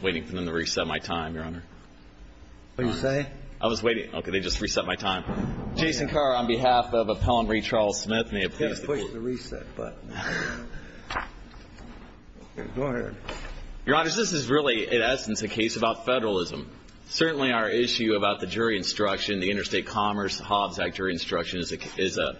Waiting for them to reset my time, Your Honor. What did you say? I was waiting. Okay, they just reset my time. Jason Carr, on behalf of Appellant Re. Charles Smith, may it please the Court. You've got to push the reset button. Go ahead. Your Honor, this is really, in essence, a case about federalism. Certainly our issue about the jury instruction, the Interstate Commerce Hobbs Act jury instruction, is an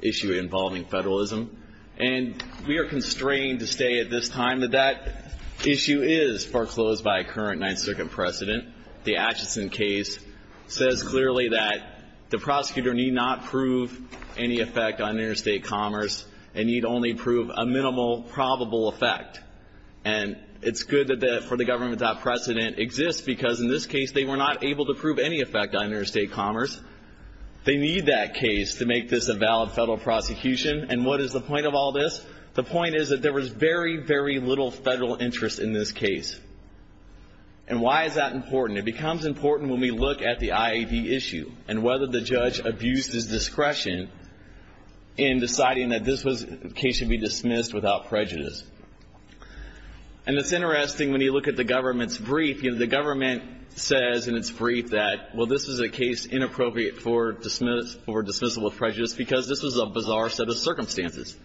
issue involving federalism. And we are constrained to say at this time that that issue is foreclosed by a current Ninth Circuit precedent. The Atchison case says clearly that the prosecutor need not prove any effect on interstate commerce and need only prove a minimal probable effect. And it's good that for the government that precedent exists because in this case, they were not able to prove any effect on interstate commerce. They need that case to make this a valid federal prosecution. And what is the point of all this? The point is that there was very, very little federal interest in this case. And why is that important? It becomes important when we look at the IAD issue and whether the judge abused his discretion in deciding that this case should be dismissed without prejudice. And it's interesting when you look at the government's brief. The government says in its brief that, well, this is a case inappropriate for dismissal of prejudice because this was a bizarre set of circumstances.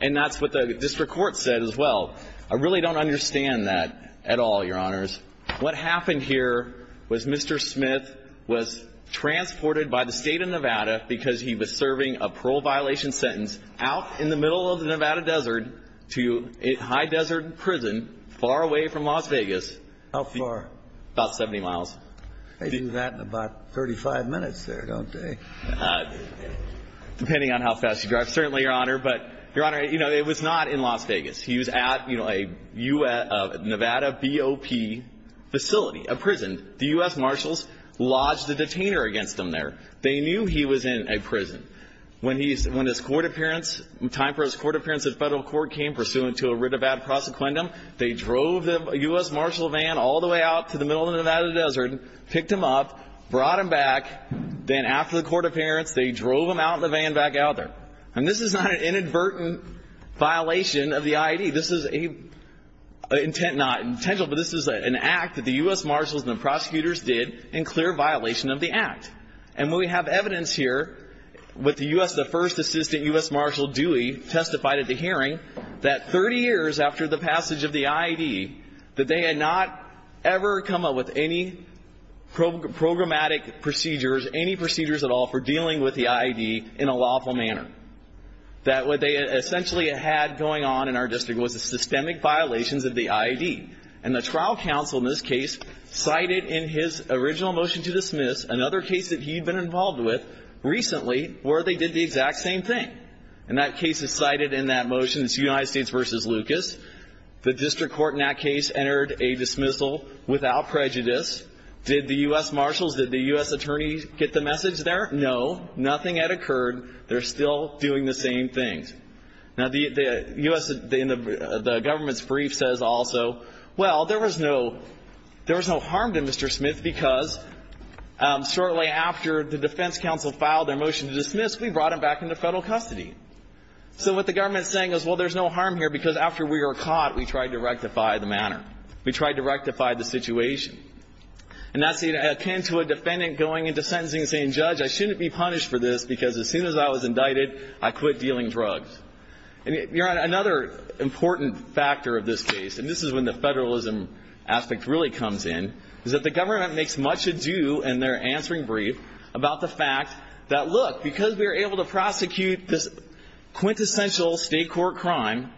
And that's what the district court said as well. I really don't understand that at all, Your Honors. What happened here was Mr. Smith was transported by the State of Nevada because he was serving a parole violation sentence out in the middle of the Nevada desert to a high desert prison far away from Las Vegas. How far? About 70 miles. They do that in about 35 minutes there, don't they? Depending on how fast you drive. Certainly, Your Honor. But, Your Honor, it was not in Las Vegas. He was at a Nevada BOP facility, a prison. The U.S. Marshals lodged a detainer against him there. They knew he was in a prison. When his court appearance, time for his court appearance at federal court came, pursuant to a writ of ad prosequendum, they drove the U.S. Marshal van all the way out to the middle of the Nevada desert, picked him up, brought him back. Then after the court appearance, they drove him out in the van back out there. And this is not an inadvertent violation of the IED. This is an intent not intentional, but this is an act that the U.S. Marshals and the prosecutors did in clear violation of the act. And we have evidence here with the U.S. The first assistant U.S. Marshal Dewey testified at the hearing that 30 years after the passage of the IED, that they had not ever come up with any programmatic procedures, any procedures at all for dealing with the IED in a lawful manner. That what they essentially had going on in our district was the systemic violations of the IED. And the trial counsel in this case cited in his original motion to dismiss, another case that he had been involved with recently, where they did the exact same thing. And that case is cited in that motion. It's United States v. Lucas. The district court in that case entered a dismissal without prejudice. Did the U.S. Marshals, did the U.S. attorneys get the message there? No. Nothing had occurred. They're still doing the same things. Now, the U.S. in the government's brief says also, well, there was no harm to Mr. Smith because shortly after the defense counsel filed their motion to dismiss, we brought him back into federal custody. So what the government is saying is, well, there's no harm here because after we were caught, we tried to rectify the matter. We tried to rectify the situation. And that's akin to a defendant going into sentencing and saying, judge, I shouldn't be punished for this because as soon as I was indicted, I quit dealing drugs. Another important factor of this case, and this is when the federalism aspect really comes in, is that the government makes much ado in their answering brief about the fact that, look, because we were able to prosecute this quintessential state court crime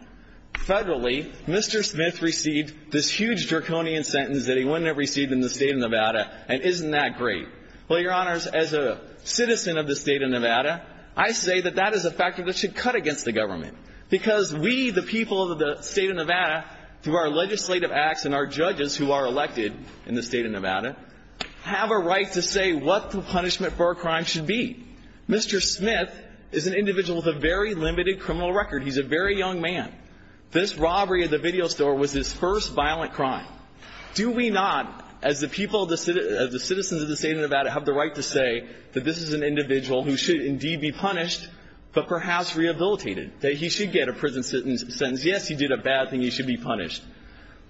federally, Mr. Smith received this huge draconian sentence that he wouldn't have received in the state of Nevada, and isn't that great? Well, Your Honors, as a citizen of the state of Nevada, I say that that is a factor that should cut against the government because we, the people of the state of Nevada, through our legislative acts and our judges who are elected in the state of Nevada, have a right to say what the punishment for a crime should be. Mr. Smith is an individual with a very limited criminal record. He's a very young man. This robbery at the video store was his first violent crime. Do we not, as the people of the citizens of the state of Nevada, have the right to say that this is an individual who should indeed be punished, but perhaps rehabilitated, that he should get a prison sentence? Yes, he did a bad thing. He should be punished.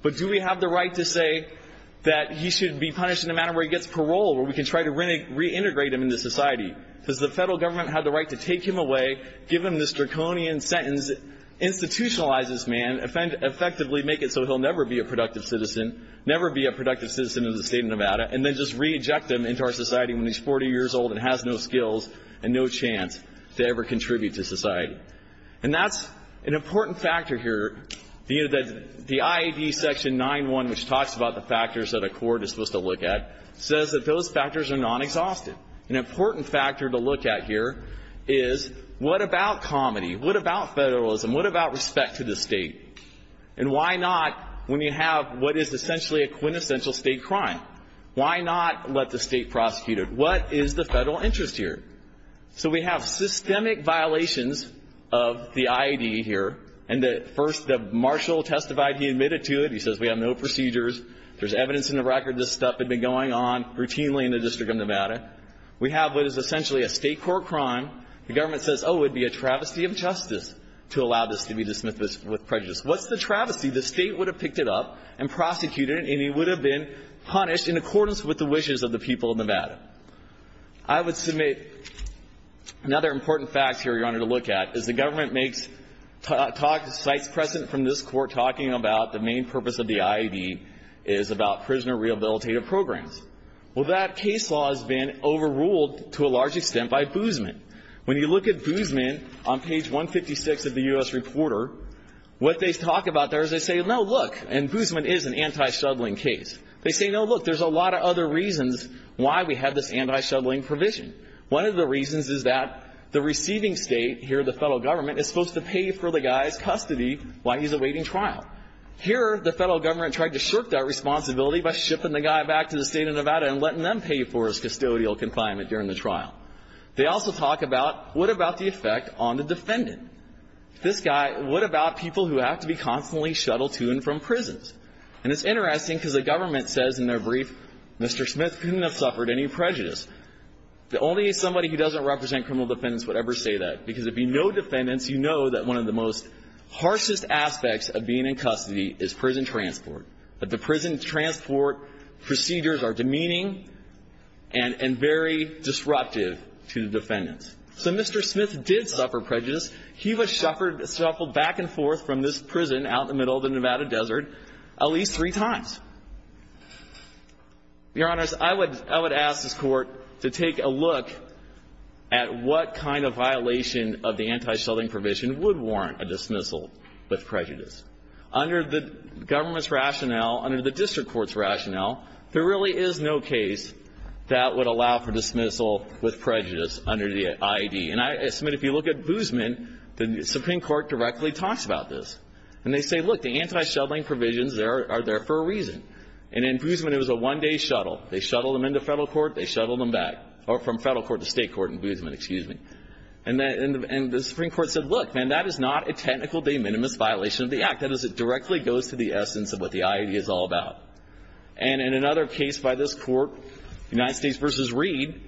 But do we have the right to say that he should be punished in a manner where he gets parole, where we can try to reintegrate him into society? Does the federal government have the right to take him away, give him this draconian sentence, institutionalize this man, effectively make it so he'll never be a productive citizen, never be a productive citizen of the state of Nevada, and then just reject him into our society when he's 40 years old and has no skills and no chance to ever contribute to society? And that's an important factor here. The IAB section 9-1, which talks about the factors that a court is supposed to look at, says that those factors are non-exhaustive. An important factor to look at here is what about comedy? What about federalism? What about respect to the state? And why not, when you have what is essentially a quintessential state crime, why not let the state prosecute it? What is the federal interest here? So we have systemic violations of the IAB here. And first, the marshal testified he admitted to it. He says we have no procedures. There's evidence in the record this stuff had been going on routinely in the District of Nevada. We have what is essentially a state court crime. The government says, oh, it would be a travesty of justice to allow this to be dismissed with prejudice. What's the travesty? The state would have picked it up and prosecuted it, and he would have been punished in accordance with the wishes of the people of Nevada. I would submit another important fact here, Your Honor, to look at, is the government makes sites present from this court talking about the main purpose of the IAB is about prisoner rehabilitative programs. Well, that case law has been overruled to a large extent by Boozman. When you look at Boozman on page 156 of the U.S. Reporter, what they talk about there is they say, no, look, and Boozman is an anti-shuttling case. They say, no, look, there's a lot of other reasons why we have this anti-shuttling provision. One of the reasons is that the receiving state here, the federal government, is supposed to pay for the guy's custody while he's awaiting trial. Here, the federal government tried to shirk that responsibility by shipping the guy back to the state of Nevada and letting them pay for his custodial confinement during the trial. They also talk about, what about the effect on the defendant? This guy, what about people who have to be constantly shuttled to and from prisons? And it's interesting because the government says in their brief, Mr. Smith couldn't have suffered any prejudice. The only somebody who doesn't represent criminal defendants would ever say that because if you know defendants, you know that one of the most harshest aspects of being in custody is prison transport, that the prison transport procedures are demeaning and very disruptive to the defendants. So Mr. Smith did suffer prejudice. He was shuffled back and forth from this prison out in the middle of the Nevada desert at least three times. Your Honors, I would ask this Court to take a look at what kind of violation of the anti-shuttling provision would warrant a dismissal with prejudice. Under the government's rationale, under the district court's rationale, there really is no case that would allow for dismissal with prejudice under the IED. And, Mr. Smith, if you look at Boozman, the Supreme Court directly talks about this. And they say, look, the anti-shuttling provisions are there for a reason. And in Boozman, it was a one-day shuttle. They shuttled him into federal court, they shuttled him back, or from federal court to state court in Boozman, excuse me. And the Supreme Court said, look, man, that is not a technical de minimis violation of the act. That is, it directly goes to the essence of what the IED is all about. And in another case by this Court, United States v. Reed,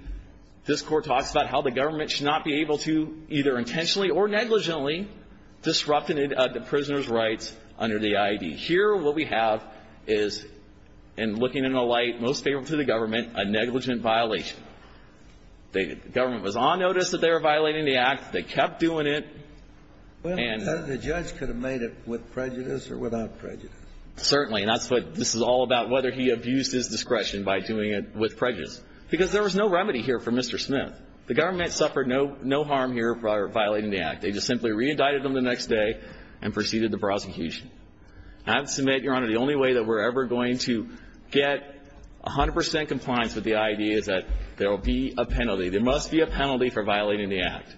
this Court talks about how the government should not be able to either intentionally or negligently disrupt the prisoner's rights under the IED. Here what we have is, in looking in the light most favorable to the government, a negligent violation. The government was on notice that they were violating the act. They kept doing it. And the judge could have made it with prejudice or without prejudice. Certainly. And that's what this is all about, whether he abused his discretion by doing it with prejudice. Because there was no remedy here for Mr. Smith. The government suffered no harm here for violating the act. They just simply reindicted him the next day and proceeded the prosecution. I have to submit, Your Honor, the only way that we're ever going to get 100 percent compliance with the IED is that there will be a penalty. There must be a penalty for violating the act.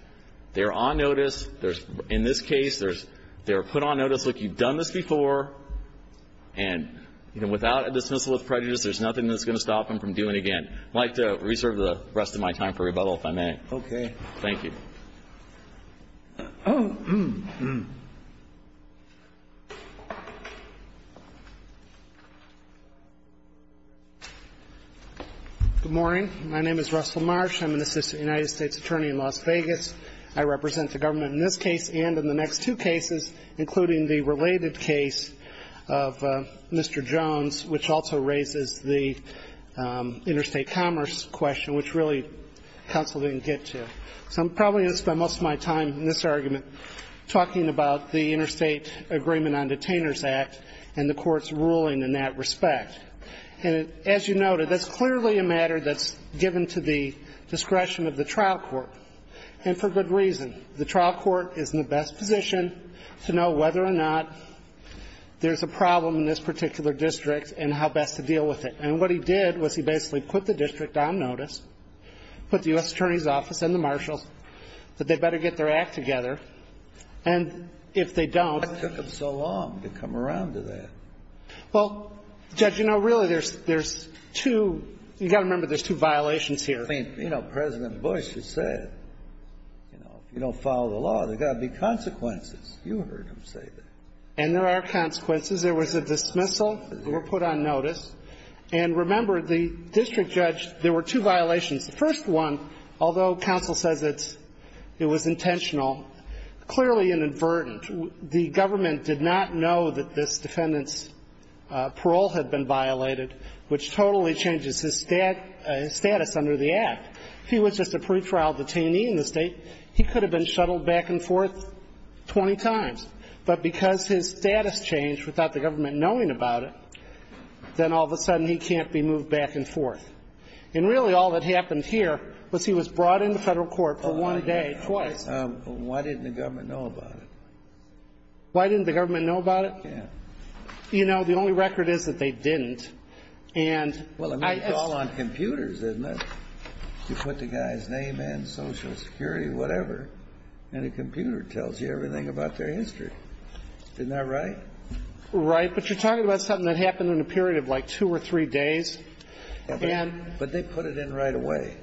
They're on notice. In this case, they're put on notice, look, you've done this before, and, you know, without a dismissal of prejudice, there's nothing that's going to stop them from doing it again. I'd like to reserve the rest of my time for rebuttal, if I may. Okay. Thank you. Good morning. My name is Russell Marsh. I'm an assistant United States attorney in Las Vegas. I represent the government in this case and in the next two cases, including the related case of Mr. Jones, which also raises the interstate commerce question, which really counsel didn't get to. So I'm probably going to spend most of my time in this argument talking about the Interstate Agreement on Detainers Act and the Court's ruling in that respect. And as you noted, that's clearly a matter that's given to the discretion of the trial court, and for good reason. The trial court is in the best position to know whether or not there's a problem in this particular district and how best to deal with it. And what he did was he basically put the district on notice, put the U.S. Attorney's Office and the marshals that they'd better get their act together, and if they don't Why took them so long to come around to that? Well, Judge, you know, really there's two you've got to remember there's two violations I mean, you know, President Bush has said, you know, if you don't follow the law, there's got to be consequences. You heard him say that. And there are consequences. There was a dismissal. They were put on notice. And remember, the district judge, there were two violations. The first one, although counsel says it's – it was intentional, clearly inadvertent. The government did not know that this defendant's parole had been violated, which totally changes his status under the act. If he was just a pretrial detainee in the state, he could have been shuttled back and forth 20 times. But because his status changed without the government knowing about it, then all of a sudden he can't be moved back and forth. And really all that happened here was he was brought into federal court for one day twice. Why didn't the government know about it? Why didn't the government know about it? Yeah. You know, the only record is that they didn't. And I – Well, I mean, it's all on computers, isn't it? You put the guy's name in, Social Security, whatever, and a computer tells you everything about their history. Isn't that right? Right. But you're talking about something that happened in a period of like two or three days. But they put it in right away.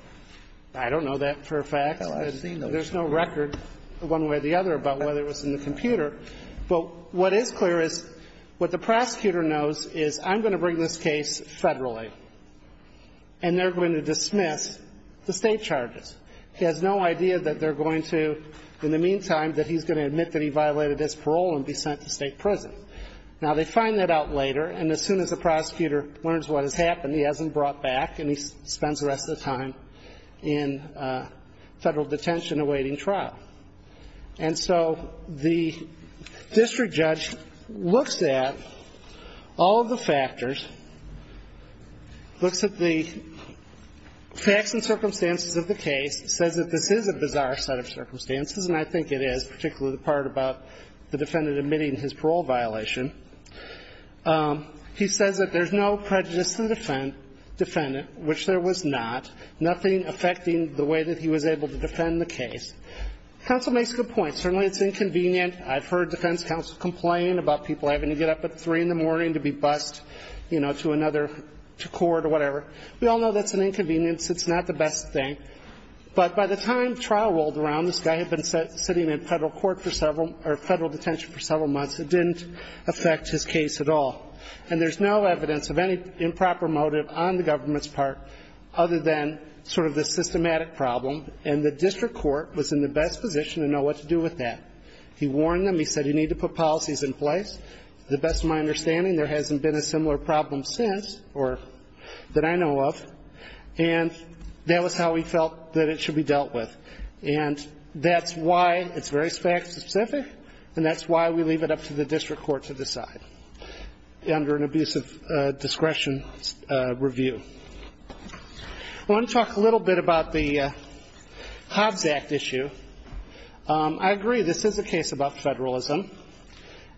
I don't know that for a fact. Well, I've seen those. There's no record one way or the other about whether it was in the computer. But what is clear is what the prosecutor knows is I'm going to bring this case federally and they're going to dismiss the State charges. He has no idea that they're going to, in the meantime, that he's going to admit that he violated his parole and be sent to State prison. Now, they find that out later, and as soon as the prosecutor learns what has happened, he has him brought back and he spends the rest of the time in federal detention awaiting trial. And so the district judge looks at all of the factors, looks at the facts and circumstances of the case, says that this is a bizarre set of circumstances, and I think it is, particularly the part about the defendant admitting his parole violation. He says that there's no prejudice to the defendant, which there was not, nothing affecting the way that he was able to defend the case. Counsel makes a good point. Certainly it's inconvenient. I've heard defense counsel complain about people having to get up at 3 in the morning to be bused, you know, to another court or whatever. We all know that's an inconvenience. It's not the best thing. But by the time trial rolled around, this guy had been sitting in federal court for several or federal detention for several months. It didn't affect his case at all. And there's no evidence of any improper motive on the government's part other than sort of the systematic problem. And the district court was in the best position to know what to do with that. He warned them. He said you need to put policies in place. To the best of my understanding, there hasn't been a similar problem since or that I know of. And that was how he felt that it should be dealt with. And that's why it's very fact-specific, and that's why we leave it up to the district court to decide under an abuse of discretion review. I want to talk a little bit about the Hobbs Act issue. I agree, this is a case about federalism.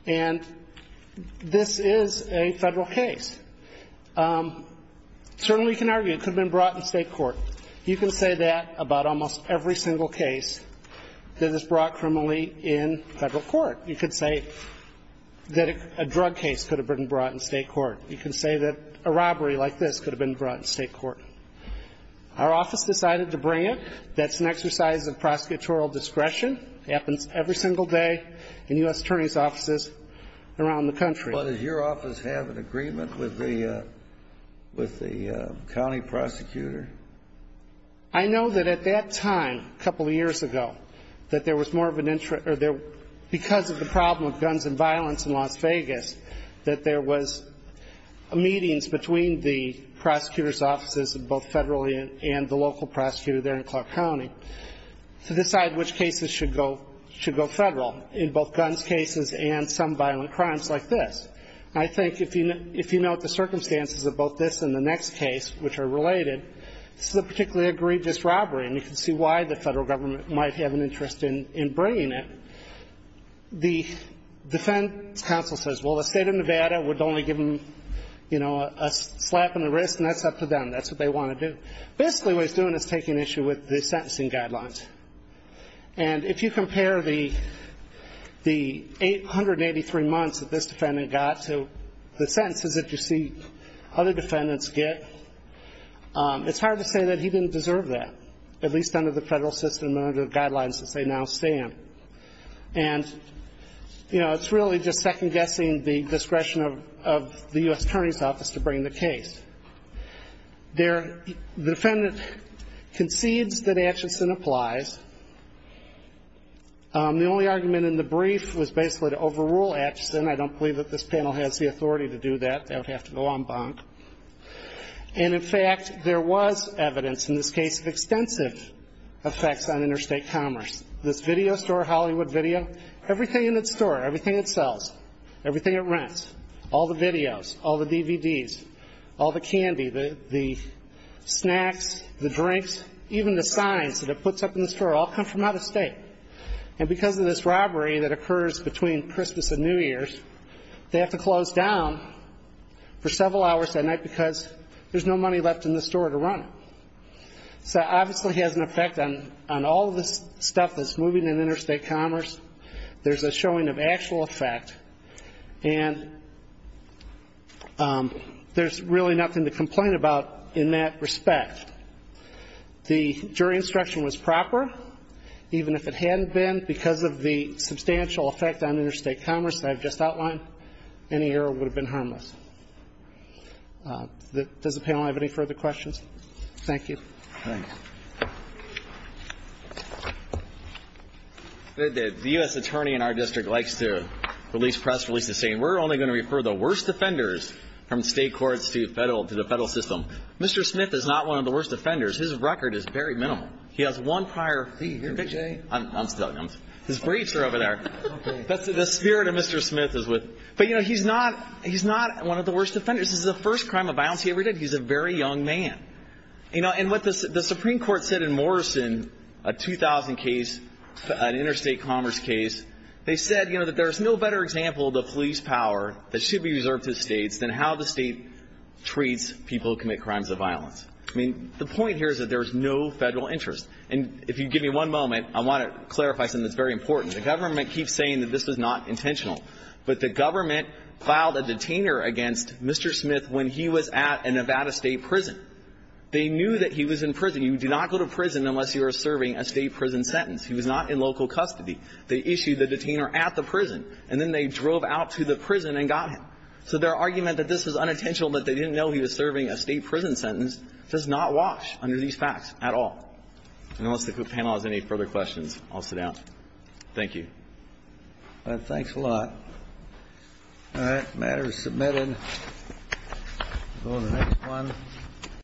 And this is a federal case. Certainly you can argue it could have been brought in state court. You can say that about almost every single case that is brought criminally in federal court. You could say that a drug case could have been brought in state court. You can say that a robbery like this could have been brought in state court. Our office decided to bring it. That's an exercise of prosecutorial discretion. It happens every single day in U.S. attorneys' offices around the country. But does your office have an agreement with the county prosecutor? I know that at that time, a couple of years ago, that there was more of an interest because of the problem of guns and violence in Las Vegas, that there was meetings between the prosecutor's offices, both federally and the local prosecutor there in Clark County, to decide which cases should go federal, in both guns cases and some violent crimes like this. And I think if you note the circumstances of both this and the next case, which are related, this is a particularly egregious robbery. And you can see why the federal government might have an interest in bringing it. The defense counsel says, well, the state of Nevada would only give them a slap on the wrist, and that's up to them. That's what they want to do. Basically, what he's doing is taking issue with the sentencing guidelines. And if you compare the 883 months that this defendant got to the sentences that you other defendants get, it's hard to say that he didn't deserve that, at least under the federal system and under the guidelines as they now stand. And, you know, it's really just second-guessing the discretion of the U.S. Attorney's Office to bring the case. The defendant concedes that Acheson applies. The only argument in the brief was basically to overrule Acheson. I don't believe that this panel has the authority to do that. That would have to go en banc. And, in fact, there was evidence in this case of extensive effects on interstate commerce. This video store, Hollywood Video, everything in its store, everything it sells, everything it rents, all the videos, all the DVDs, all the candy, the snacks, the drinks, even the signs that it puts up in the store all come from out of state. And because of this robbery that occurs between Christmas and New Year's, they have to close down for several hours that night because there's no money left in the store to run it. So it obviously has an effect on all of this stuff that's moving in interstate commerce. There's a showing of actual effect. And there's really nothing to complain about in that respect. The jury instruction was proper. Even if it hadn't been because of the substantial effect on interstate commerce that I've just outlined, any error would have been harmless. Does the panel have any further questions? Thank you. Thank you. The U.S. attorney in our district likes to release press releases saying we're only going to refer the worst offenders from state courts to the federal system. Mr. Smith is not one of the worst offenders. His record is very minimal. He has one prior conviction. His briefs are over there. The spirit of Mr. Smith is with him. But he's not one of the worst offenders. This is the first crime of violence he ever did. He's a very young man. And what the Supreme Court said in Morrison, a 2000 case, an interstate commerce case, they said that there's no better example of the police power that should be reserved to states than how the I mean, the point here is that there's no Federal interest. And if you give me one moment, I want to clarify something that's very important. The government keeps saying that this was not intentional, but the government filed a detainer against Mr. Smith when he was at a Nevada state prison. They knew that he was in prison. You do not go to prison unless you are serving a state prison sentence. He was not in local custody. They issued the detainer at the prison, and then they drove out to the prison and got him. So their argument that this was unintentional, that they didn't know he was serving a state prison sentence, does not wash under these facts at all. And unless the panel has any further questions, I'll sit down. Thank you. Thanks a lot. All right. The matter is submitted. We'll go to the next one.